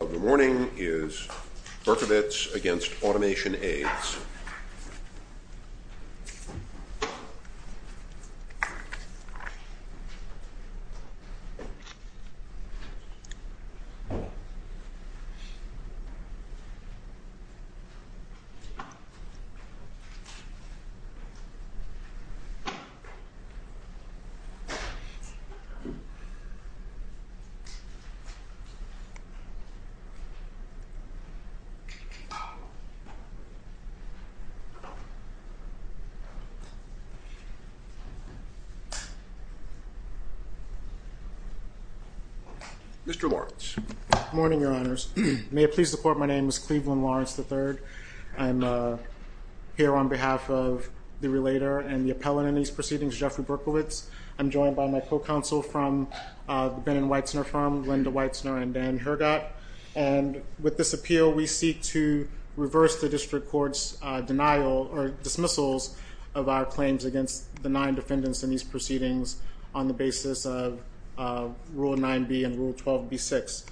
of the morning is Berkowitz against Automation Aids. Mr. Lawrence, good morning, your honors. May it please the court, my name is Cleveland Lawrence III. I'm here on behalf of the relator and the appellant in these proceedings, Jeffrey Berkowitz. I'm joined by my co-counsel from the Ben and Weitzner firm, Linda Weitzner and Dan Hergott. And with this appeal, we seek to reverse the district court's denial or dismissals of our claims against the nine defendants in these proceedings on the basis of Rule 9b and Rule 12b-6.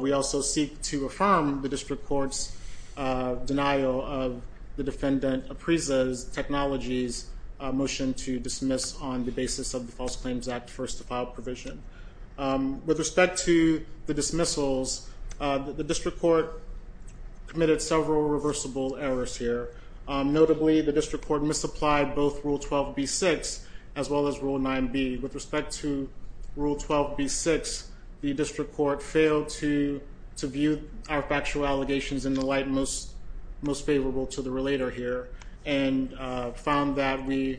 We also seek to affirm the district court's denial of the defendant appraises technology's motion to dismiss on the basis of the False Claims Act First to File provision. With respect to the dismissals, the district court committed several reversible errors here. Notably, the district court misapplied both Rule 12b-6 as well as Rule 9b. With respect to Rule 12b-6, the district court failed to view our factual allegations in the light most favorable to the relator here and found that we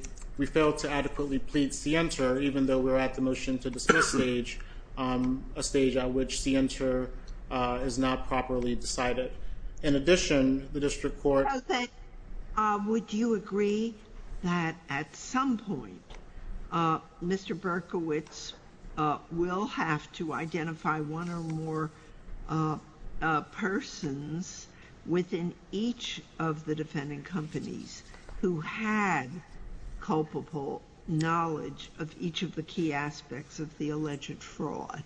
failed to adequately plead scienter, even though we're at the motion to dismiss stage, a stage at which scienter is not properly decided. In addition, the district court- Would you agree that at some point, Mr. Berkowitz will have to identify one or more persons within each of the defendant companies who had culpable knowledge of each of the key aspects of the alleged fraud?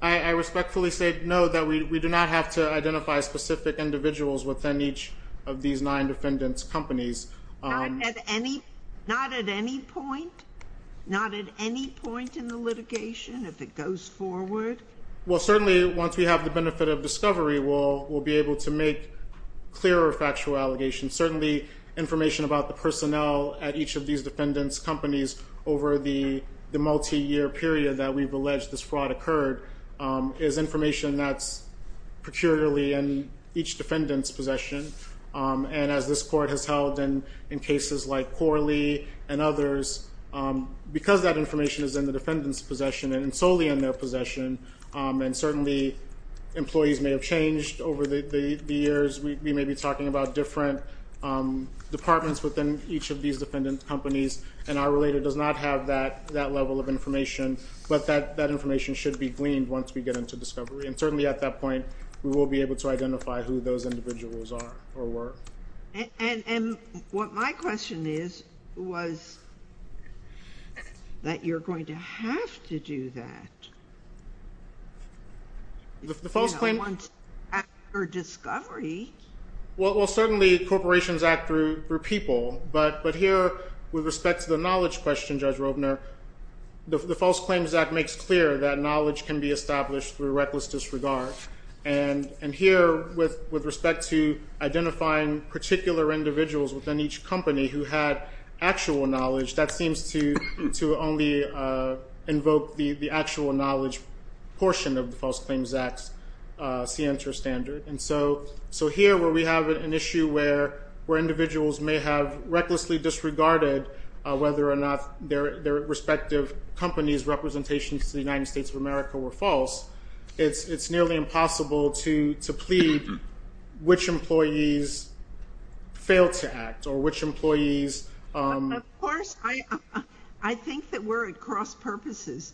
I respectfully say no, that we do not have to identify specific individuals within each of these nine defendants' companies. Not at any point? Not at any point in the litigation if it goes forward? Well, certainly once we have the benefit of discovery, we'll be able to make clearer factual allegations. Certainly, information about the personnel at each of these defendants' companies over the multi-year period that we've alleged this fraud occurred is information that's peculiarly in each defendant's possession. And as this court has held in cases like Corley and others, because that information is in the defendant's possession and solely in their possession, and certainly employees may have changed over the years, we may be talking about different departments within each of these defendants' companies, and our relator does not have that level of information. But that information should be gleaned once we get into discovery. And certainly at that point, we will be able to identify who those individuals are or were. And what my question is, was that you're going to have to do that? The false claim... Once after discovery... Well, certainly, corporations act through people. But here, with respect to the knowledge question, Judge Robner, the False Claims Act makes clear that knowledge can be established through reckless disregard. And here, with respect to the False Claims Act, that seems to only invoke the actual knowledge portion of the False Claims Act's scienter standard. And so here, where we have an issue where individuals may have recklessly disregarded whether or not their respective companies' representations to the United States of America were false, it's nearly impossible to plead which employees failed to act or which employees... Of course, I think that we're at cross-purposes.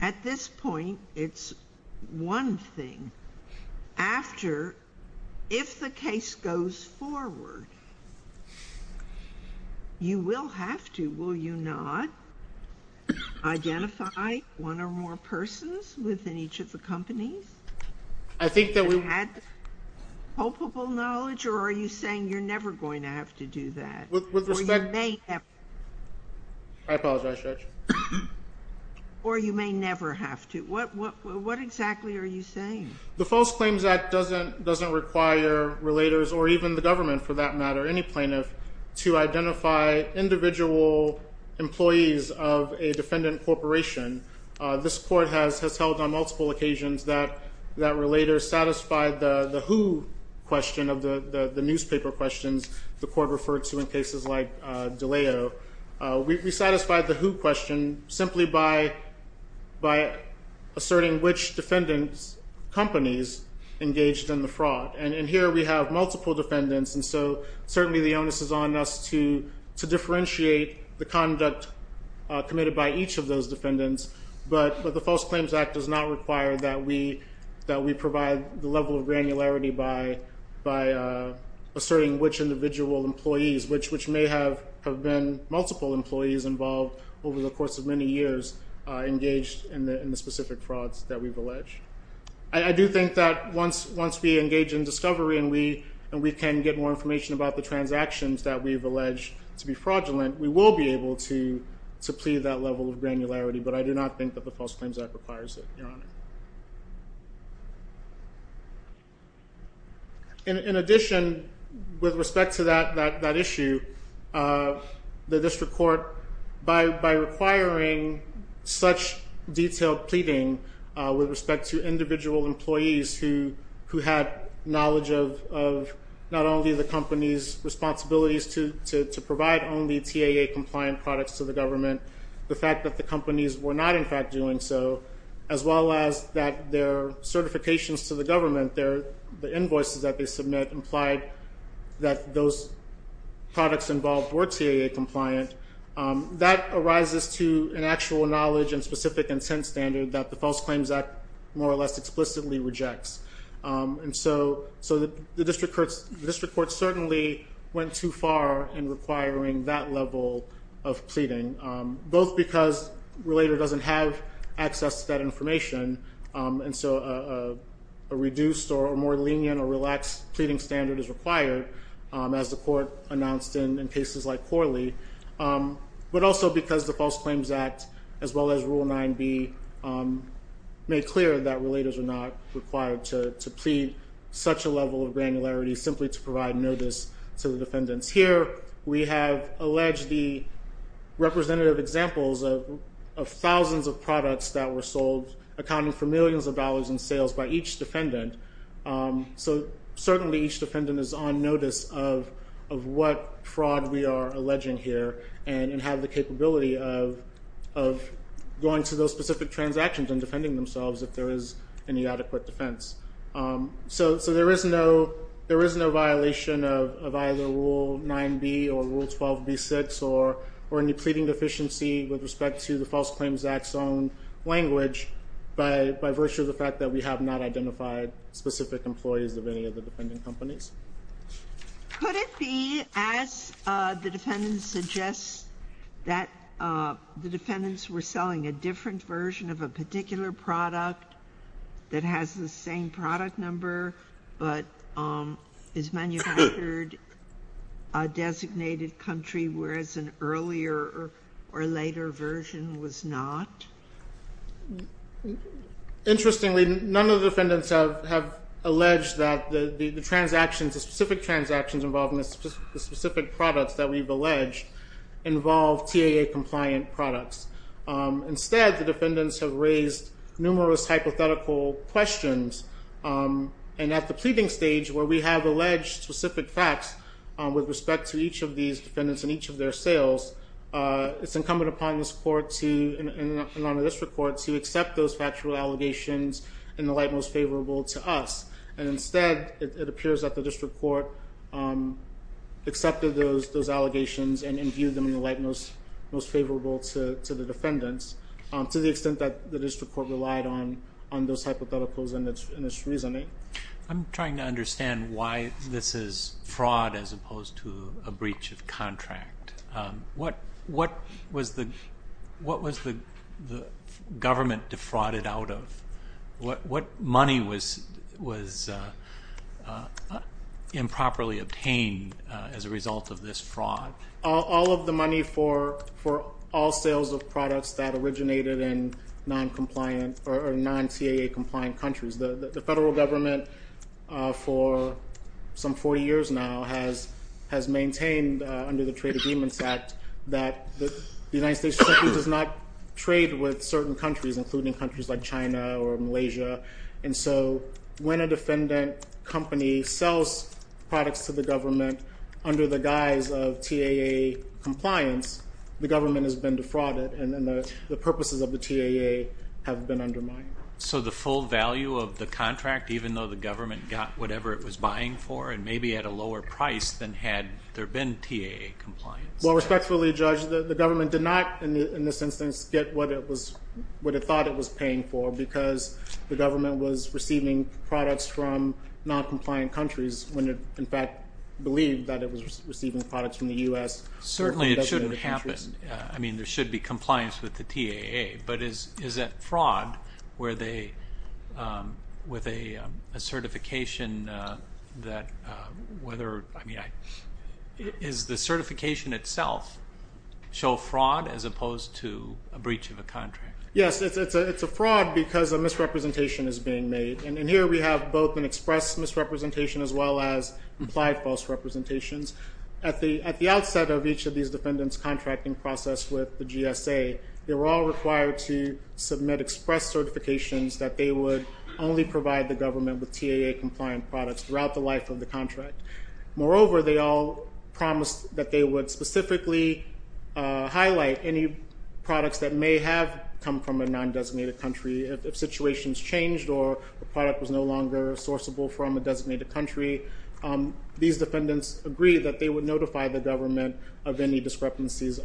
At this point, it's one thing. After, if the case goes forward, you will have to, will you not, identify one or more persons within each of the companies? I think that we... Have you had palpable knowledge, or are you saying you're never going to have to do that? I apologize, Judge. Or you may never have to. What exactly are you saying? The False Claims Act doesn't require relators, or even the government, for that matter, any plaintiff, to identify individual employees of a defendant corporation. This Court has held on multiple occasions that relators satisfied the who question of the newspaper questions the Court referred to in cases like DeLeo. We satisfied the who question simply by asserting which defendants' companies engaged in the fraud. And here, we have multiple defendants, and so certainly the onus is on us to differentiate the conduct committed by each of those defendants. But the False Claims Act does not require that we provide the level of granularity by asserting which individual employees, which may have been multiple employees involved over the course of many years, engaged in the specific frauds that we've alleged. I do think that once we engage in discovery and we can get more information about the transactions that we've able to plead that level of granularity, but I do not think that the False Claims Act requires it, Your Honor. In addition, with respect to that issue, the District Court, by requiring such detailed pleading with respect to individual employees who had knowledge of not only the company's responsibilities to provide only TAA-compliant products to the government, the fact that the companies were not in fact doing so, as well as that their certifications to the government, the invoices that they submit implied that those products involved were TAA-compliant, that arises to an actual knowledge and specific intent standard that the False Claims Act more or less explicitly rejects. And so the District Court certainly went too far in requiring that level of pleading, both because a relator doesn't have access to that information, and so a reduced or more lenient or relaxed pleading standard is required, as the Court announced in cases like Corley, but also because the False Claims Act, as well as Rule 9b, made clear that relators are not required to plead such a level of granularity simply to provide notice to the defendants. Here, we have alleged the representative examples of thousands of products that were sold, accounting for millions of dollars in sales by each defendant, so certainly each defendant is on notice of what fraud we are alleging here, and have the capability of going to those specific transactions and so there is no violation of either Rule 9b or Rule 12b6 or any pleading deficiency with respect to the False Claims Act's own language by virtue of the fact that we have not identified specific employees of any of the defendant companies. Could it be, as the defendant suggests, that the defendants were selling a different version of a particular product that has the same product number, but is manufactured a designated country, whereas an earlier or later version was not? Interestingly, none of the defendants have alleged that the transactions, the specific transactions involving the specific products that we've alleged, involve TAA-compliant products. Instead, the defendants have raised numerous hypothetical questions, and at the pleading stage, where we have alleged specific facts with respect to each of these defendants and each of their sales, it's incumbent upon this Court and on the District Court to accept those factual allegations in the light most favorable to us, and instead, it appears that the District Court accepted those allegations and viewed them in the light most favorable to the defendants, to the extent that the District Court relied on those hypotheticals in its reasoning. I'm trying to understand why this is fraud as opposed to a breach of contract. What was the government defrauded out of? What money was improperly obtained as a result of this fraud? All of the money for all sales of products that originated in non-TAA-compliant countries. The federal government, for some 40 years now, has maintained under the Trade Agreements Act that the United States does not trade with certain countries, including countries like China or Malaysia, and so when a defendant company sells products to the government under the guise of TAA compliance, the government has been defrauded and the purposes of the TAA have been undermined. So the full value of the contract, even though the government got whatever it was buying for and maybe at a lower price than had there been TAA compliance? Well, respectfully, Judge, the government did not, in this instance, get what it thought it was paying for because the government was receiving products from non-compliant countries when it, in fact, believed that it was receiving products from the U.S. Certainly it shouldn't happen. I mean, there should be compliance with the TAA, but is it fraud where they, with a certification that, whether, I mean, is the certification itself show fraud as opposed to a breach of a contract? Yes, it's a fraud because a misrepresentation is being made, and here we have both an express misrepresentation as well as implied false representations. At the outset of each of these defendants' contracting process with the GSA, they were all required to submit express certifications that they would only provide the government with TAA-compliant products throughout the life of the contract. Moreover, they all promised that they would specifically highlight any products that may have come from a non-designated country if situations changed or the product was no longer sourceable from a designated country. These defendants agreed that they would notify the government of any discrepancies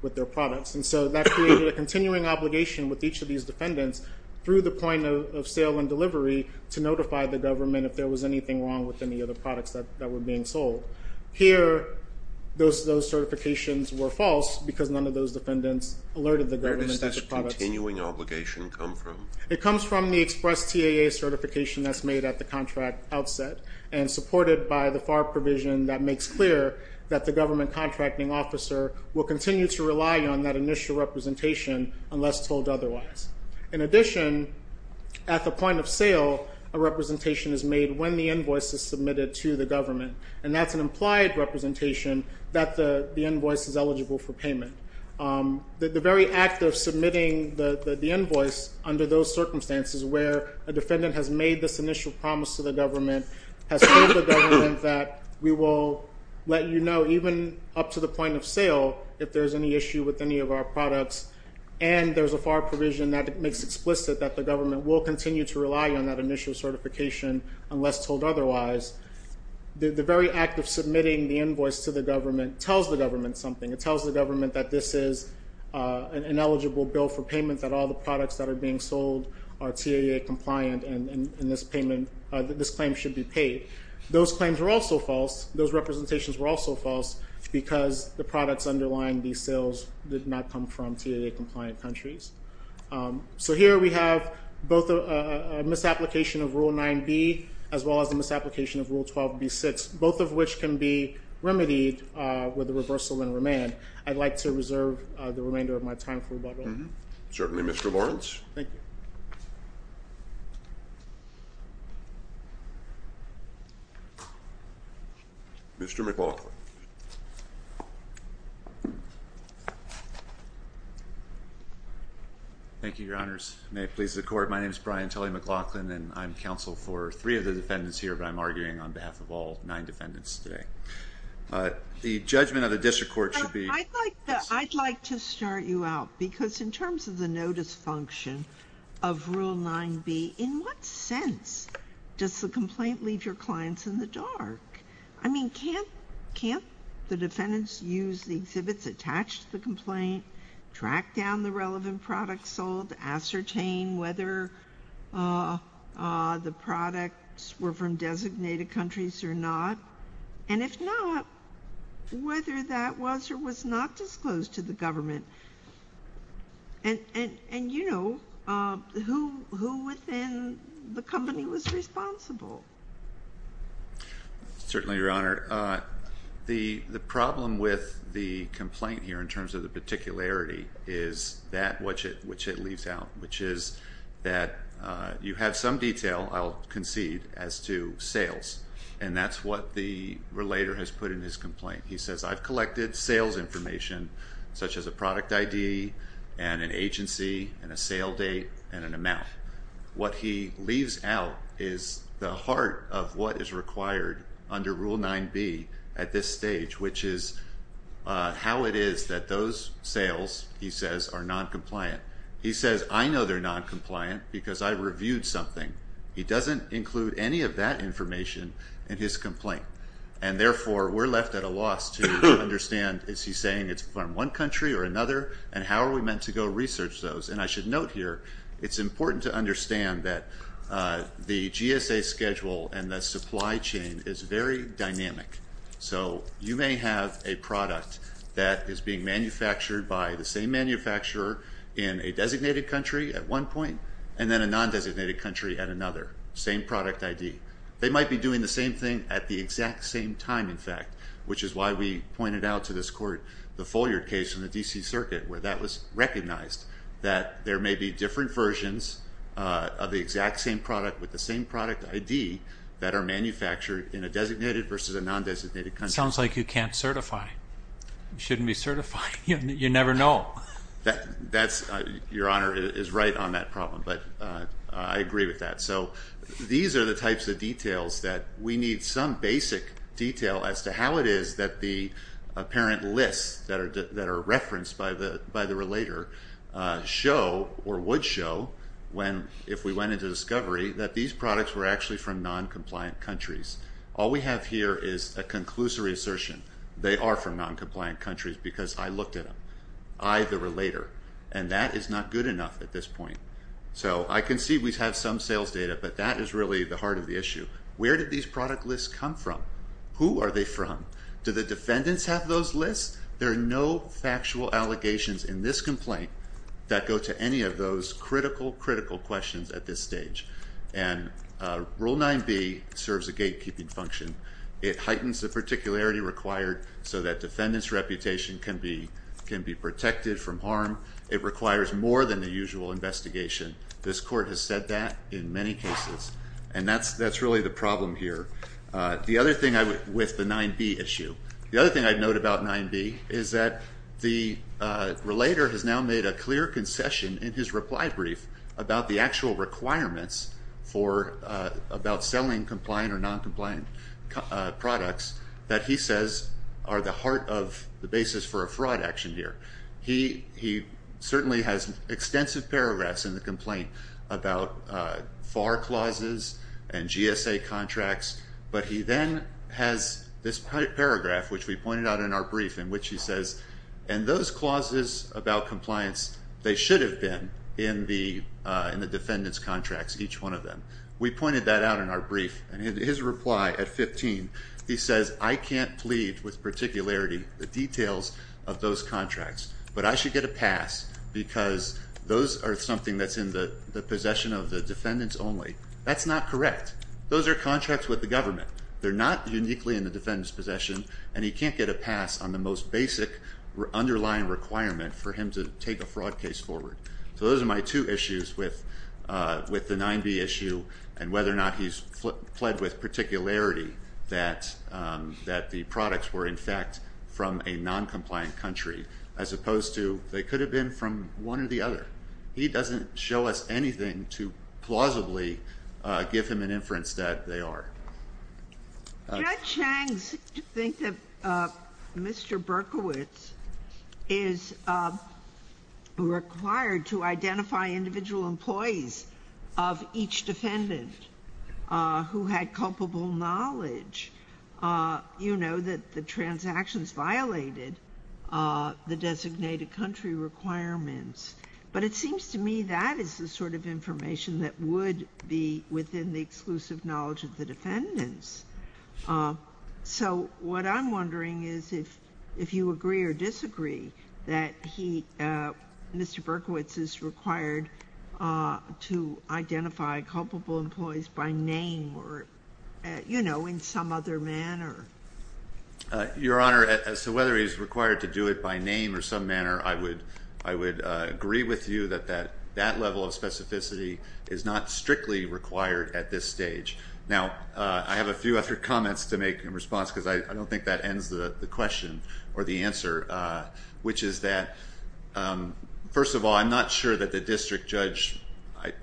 with their products, and so that created a continuing obligation with each of these defendants through the point of sale and delivery to notify the government if there was anything wrong with any of the products that were being sold. Here, those certifications were false because none of those defendants alerted the government that the products- Where does this continuing obligation come from? It comes from the express TAA certification that's made at the contract outset and supported by the FAR provision that makes clear that the government contracting officer will continue to rely on that initial representation unless told otherwise. In addition, at the point of sale, a representation is made when the invoice is submitted to the government, and that's an implied representation that the invoice is eligible for payment. The very act of submitting the invoice under those circumstances where a defendant has made this initial promise to the government, has told the government that we will let you know even up to the point of sale if there's any issue with any of our products, and there's a FAR provision that makes explicit that the government will continue to rely on that initial certification unless told otherwise, the very act of submitting the invoice to the government tells the government something. It tells the government that this is an ineligible bill for payment, that all the products that are being sold are TAA-compliant, and this claim should be paid. Those claims were also false. Those representations were also false because the products underlying these sales did not come from TAA-compliant countries. So here we have both a misapplication of Rule 9b as well as a misapplication of Rule 12b6, both of which can be remedied with a reversal and remand. I'd like to reserve the remainder of my time for rebuttal. Certainly, Mr. Lawrence. Thank you. Mr. McLaughlin. Thank you, Your Honors. May it please the Court. My name is Brian Tully McLaughlin, and I'm counsel for three of the defendants here, and I'm arguing on behalf of all nine defendants today. The judgment of the District Court should be— Well, I'd like to start you out, because in terms of the notice function of Rule 9b, in what sense does the complaint leave your clients in the dark? I mean, can't the defendants use the exhibits attached to the complaint, track down the relevant products sold, ascertain whether the products were from designated countries or not? And if not, whether that was or was not disclosed to the government? And, you know, who within the company was responsible? Certainly, Your Honor. The problem with the complaint here, in terms of the particularity, is that which it leaves out, which is that you have some detail, I'll concede, as to sales. And that's what the relator has put in his complaint. He says, I've collected sales information, such as a product ID, and an agency, and a sale date, and an amount. What he leaves out is the heart of what is required under Rule 9b at this stage, which is how it is that those sales, he says, are noncompliant. He says, I know they're noncompliant because I reviewed something. He doesn't include any of that information in his complaint, and therefore we're left at a loss to understand, is he saying it's from one country or another, and how are we meant to go research those? And I should note here, it's important to understand that the GSA schedule and the supply chain is very dynamic. So you may have a product that is being manufactured by the same manufacturer in a designated country at one point, and then a non-designated country at another. Same product ID. They might be doing the same thing at the exact same time, in fact, which is why we pointed out to this Court the Foyard case from the D.C. Circuit, where that was recognized, that there may be different versions of the exact same product with the same product ID that are manufactured in a designated versus a non-designated country. Sounds like you can't certify. You shouldn't be certifying. You never know. That's, Your Honor, is right on that problem, but I agree with that. So these are the types of details that we need some basic detail as to how it is that the apparent lists that are referenced by the relator show, or would show, if we went into discovery, that these products were actually from non-compliant countries. All we have here is a conclusory assertion. They are from non-compliant countries because I looked at them. I, the relator. And that is not good enough at this point. So I can see we have some sales data, but that is really the heart of the issue. Where did these product lists come from? Who are they from? Do the defendants have those lists? There are no factual allegations in this complaint that go to any of those critical, critical questions at this stage. And Rule 9b serves a gatekeeping function. It heightens the particularity required so that defendant's reputation can be protected from harm. It requires more than the usual investigation. This court has said that in many cases, and that's really the problem here. The other thing I would, with the 9b issue, the other thing I would note about 9b is that the relator has now made a clear concession in his reply brief about the actual requirements about selling compliant or non-compliant products that he says are the heart of the basis for a fraud action here. He certainly has extensive paragraphs in the complaint about FAR clauses and GSA contracts, but he then has this paragraph, which we pointed out in our brief, in which he says, and those clauses about compliance, they should have been in the defendant's contracts, each one of them. We pointed that out in our brief, and his reply at 15, he says, I can't plead with particularity, the details of those contracts, but I should get a pass because those are something that's in the possession of the defendants only. That's not correct. Those are contracts with the government. They're not uniquely in the defendant's possession, and he can't get a pass on the most basic underlying requirement for him to take a fraud case forward. So those are my two issues with the 9b issue and whether or not he's pled with particularity that the products were, in fact, from a non-compliant country as opposed to they could have been from one or the other. He doesn't show us anything to plausibly give him an inference that they are. Judge Chang thinks that Mr. Berkowitz is required to identify individual employees of each defendant who had culpable knowledge, you know, that the transactions violated the designated country requirements. But it seems to me that is the sort of information that would be within the exclusive knowledge of the defendants. So what I'm wondering is if you agree or disagree that he, Mr. Berkowitz is required to identify culpable employees by name or, you know, in some other manner. Your Honor, so whether he's required to do it by name or some manner, I would agree with you that that level of specificity is not strictly required at this stage. Now, I have a few other comments to make in response because I don't think that ends the question or the answer, which is that, first of all, I'm not sure that the district judge,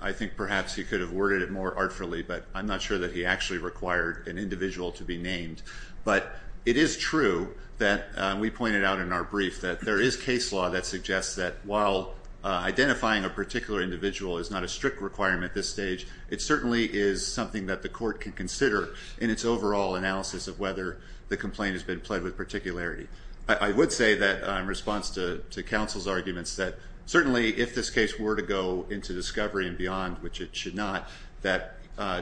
I think perhaps he could have worded it more artfully, but I'm not sure that he actually required an individual to be named. But it is true that we pointed out in our brief that there is case law that suggests that while identifying a particular individual is not a strict requirement at this stage, it certainly is something that the court can consider in its overall analysis of whether the complaint has been pled with particularity. I would say that in response to counsel's arguments that certainly if this case were to go into discovery and beyond, which it should not, that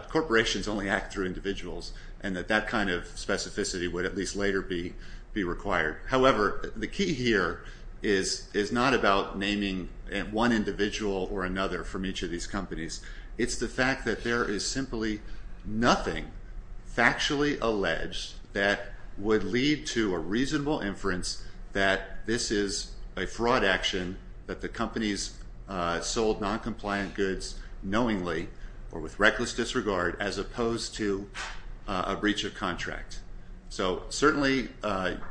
corporations only act through individuals and that that kind of specificity would at least later be required. However, the key here is not about naming one individual or another from each of these companies. It's the fact that there is simply nothing factually alleged that would lead to a reasonable inference that this is a fraud action, that the companies sold noncompliant goods knowingly or with reckless disregard as opposed to a breach of contract. So certainly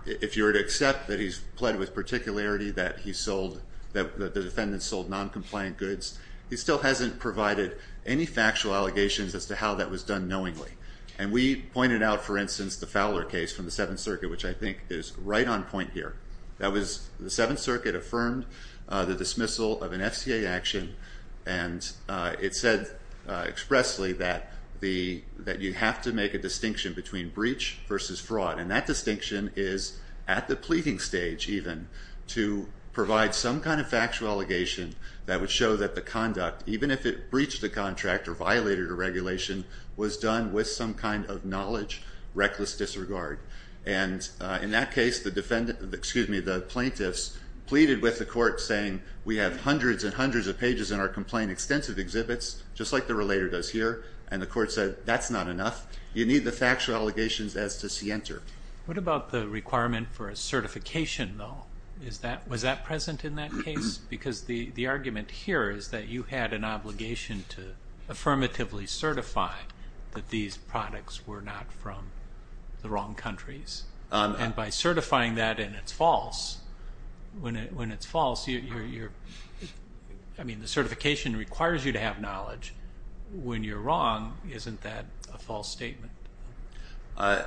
if you were to accept that he's pled with particularity that he sold, that the defendants sold noncompliant goods, he still hasn't provided any factual allegations as to how that was done knowingly. And we pointed out, for instance, the Fowler case from the Seventh Circuit, which I think is right on point here. That was the Seventh Circuit affirmed the dismissal of an FCA action and it said expressly that you have to make a distinction between breach versus fraud, and that distinction is at the pleading stage even to provide some kind of factual allegation that would show that the conduct, even if it breached the contract or violated a regulation, was done with some kind of knowledge, reckless disregard. And in that case, the plaintiffs pleaded with the court saying, we have hundreds and hundreds of pages in our complaint, extensive exhibits, just like the relator does here. And the court said, that's not enough. You need the factual allegations as to scienter. What about the requirement for a certification though? Was that present in that case? Because the argument here is that you had an obligation to affirmatively certify that these products were not from the wrong countries. And by certifying that and it's false, when it's false, the certification requires you to have knowledge. When you're wrong, isn't that a false statement? I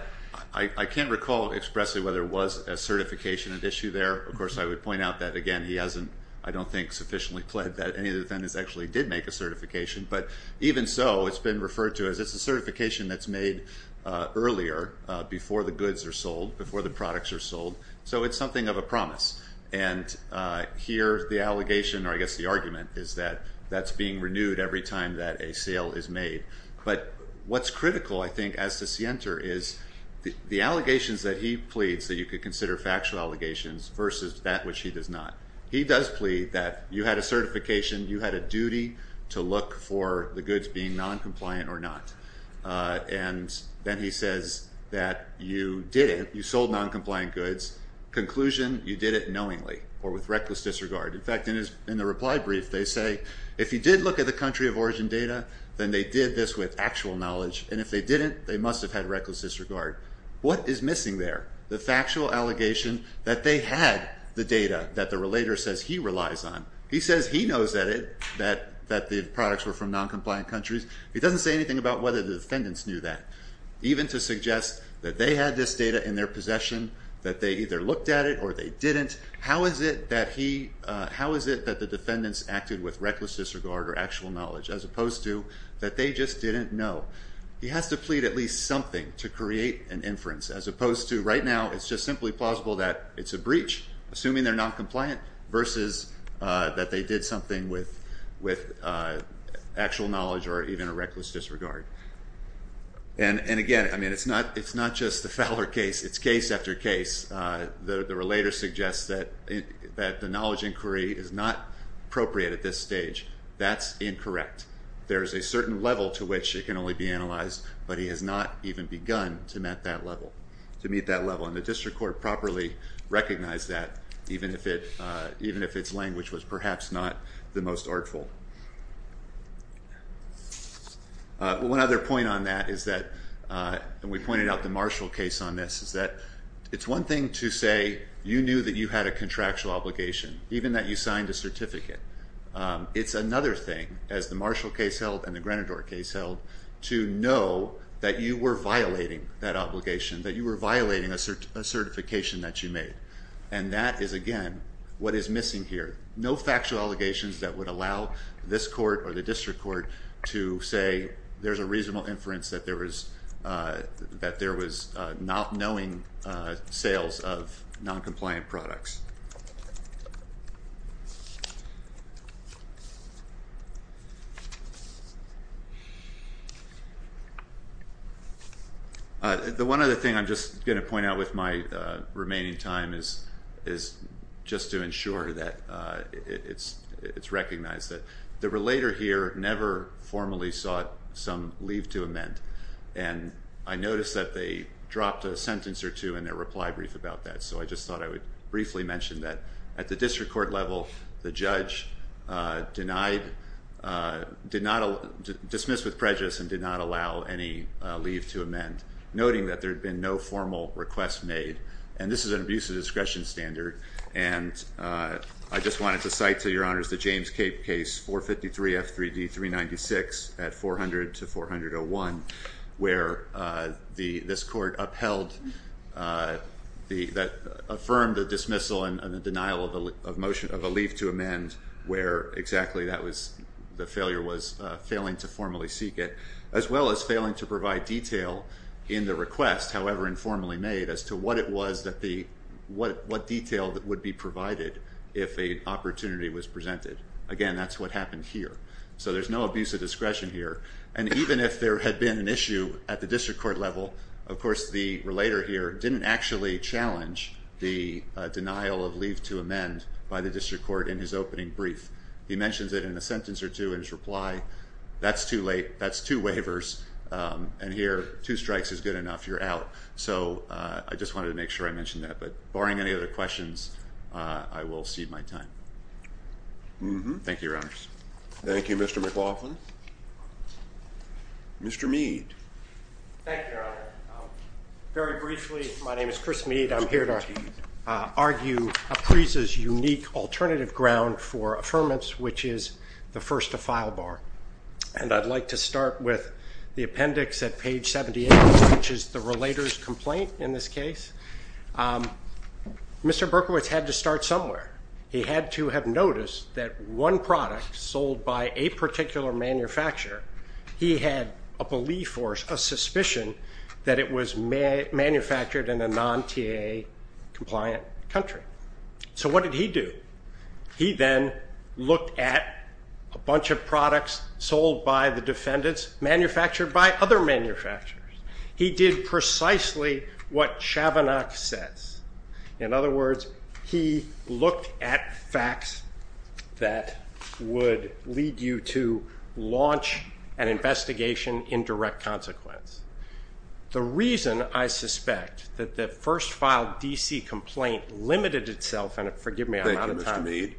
can't recall expressly whether there was a certification at issue there. Of course, I would point out that, again, he hasn't, I don't think, sufficiently pled that any of the defendants actually did make a certification. But even so, it's been referred to as it's a certification that's made earlier before the goods are sold, before the products are sold. So it's something of a promise. And here the allegation, or I guess the argument, is that that's being renewed every time that a sale is made. But what's critical, I think, as to scienter is the allegations that he pleads that you could consider factual allegations versus that which he does not. He does plead that you had a certification. You had a duty to look for the goods being noncompliant or not. And then he says that you did it. You sold noncompliant goods. Conclusion, you did it knowingly or with reckless disregard. In fact, in the reply brief, they say, if you did look at the country of origin data, then they did this with actual knowledge. And if they didn't, they must have had reckless disregard. What is missing there? The factual allegation that they had the data that the relator says he relies on. He says he knows that it, that the products were from noncompliant countries. He doesn't say anything about whether the defendants knew that, even to suggest that they had this data in their possession, that they either looked at it or they didn't. How is it that he, how is it that the defendants acted with reckless disregard or actual knowledge as opposed to that they just didn't know? He has to plead at least something to create an inference, as opposed to right now, it's just simply plausible that it's a breach, assuming they're noncompliant, versus that they did something with actual knowledge or even a reckless disregard. And again, I mean, it's not just the Fowler case. It's case after case. The relator suggests that the knowledge inquiry is not appropriate at this stage. That's incorrect. There's a certain level to which it can only be analyzed, but he has not even begun to met that level, to meet that level. And the district court properly recognized that, even if it, even if its language was perhaps not the most artful. One other point on that is that, and we pointed out the Marshall case on this, is that it's one thing to say you knew that you had a contractual obligation, even that you signed a certificate. It's another thing, as the Marshall case held and the Grenador case held, to know that you were violating that obligation, that you were violating a certification that you made. And that is, again, what is missing here. No factual allegations that would allow this court or the district court to say there's a reasonable inference that there was not knowing sales of noncompliant products. The one other thing I'm just going to point out with my remaining time is just to ensure that it's recognized that the relator here never formally sought some leave to amend, and I noticed that they dropped a sentence or two in their reply brief about that, so I just thought I would briefly mention that at the district court level, the judge denied, did not, dismissed with prejudice and did not allow any leave to amend, noting that there had been no formal request made. And this is an abuse of discretion standard, and I just wanted to cite to your honors the affirm the dismissal and the denial of a leave to amend where exactly that was, the failure was failing to formally seek it, as well as failing to provide detail in the request, however informally made, as to what it was that the, what detail would be provided if an opportunity was presented. Again, that's what happened here. So there's no abuse of discretion here, and even if there had been an issue at the district court level, of course the relator here didn't actually challenge the denial of leave to amend by the district court in his opening brief. He mentions it in a sentence or two in his reply, that's too late, that's two waivers, and here two strikes is good enough, you're out. So I just wanted to make sure I mentioned that, but barring any other questions, I will cede my time. Thank you, your honors. Thank you, Mr. McLaughlin. Mr. Mead. Thank you, your honor. Very briefly, my name is Chris Mead, I'm here to argue APPRISA's unique alternative ground for affirmance, which is the first to file bar. And I'd like to start with the appendix at page 78, which is the relator's complaint in this case. Mr. Berkowitz had to start somewhere. He had to have noticed that one product sold by a particular manufacturer, he had a belief or a suspicion that it was manufactured in a non-TAA compliant country. So what did he do? He then looked at a bunch of products sold by the defendants, manufactured by other manufacturers. He did precisely what Chavanagh says. In other words, he looked at facts that would lead you to launch an investigation in direct consequence. The reason I suspect that the first file DC complaint limited itself, and forgive me, Thank you, Mr. Mead.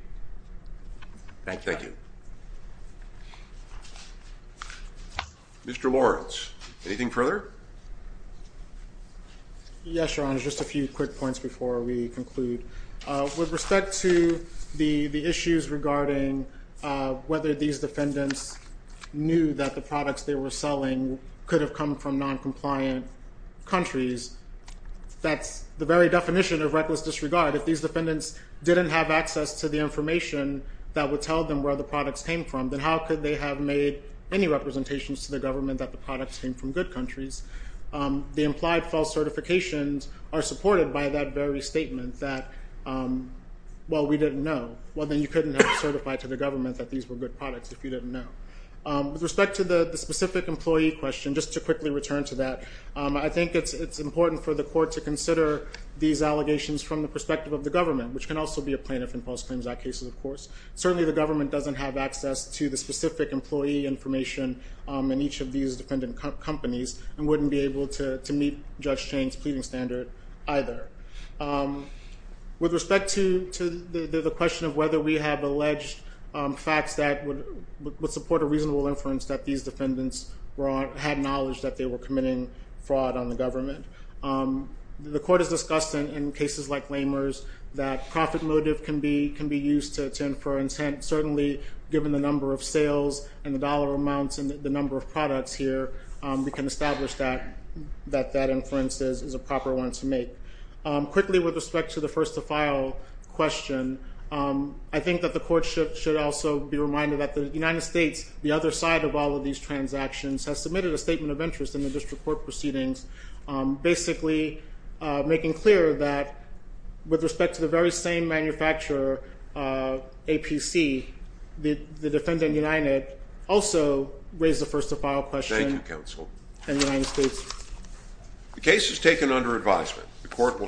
Thank you. Thank you. Mr. Lawrence, anything further? Yes, Your Honor. Just a few quick points before we conclude. With respect to the issues regarding whether these defendants knew that the products they were selling could have come from non-compliant countries, that's the very definition of reckless disregard. If these defendants didn't have access to the information that would tell them where the products came from, then how could they have made any representations to the government that the products came from good countries? The implied false certifications are supported by that very statement that, well, we didn't know. Well, then you couldn't have certified to the government that these were good products if you didn't know. With respect to the specific employee question, just to quickly return to that, I think it's important for the court to consider these allegations from the perspective of the government, which can also be a plaintiff in false claims act cases, of course. Certainly, the government doesn't have access to the specific employee information in each of these defendant companies and wouldn't be able to meet Judge Chain's pleading standard either. With respect to the question of whether we have alleged facts that would support a reasonable inference that these defendants had knowledge that they were committing fraud on the government, the court has discussed in cases like Lehmer's that profit motive can be used to infer intent. Certainly, given the number of sales and the dollar amounts and the number of products here, we can establish that that inference is a proper one to make. Quickly with respect to the first to file question, I think that the court should also be reminded that the United States, the other side of all of these transactions, has submitted a statement of interest in the district court proceedings, basically making clear that with respect to the very same manufacturer, APC, the defendant United also raised the first to file question in the United States. Thank you, counsel. The case is taken under advisement.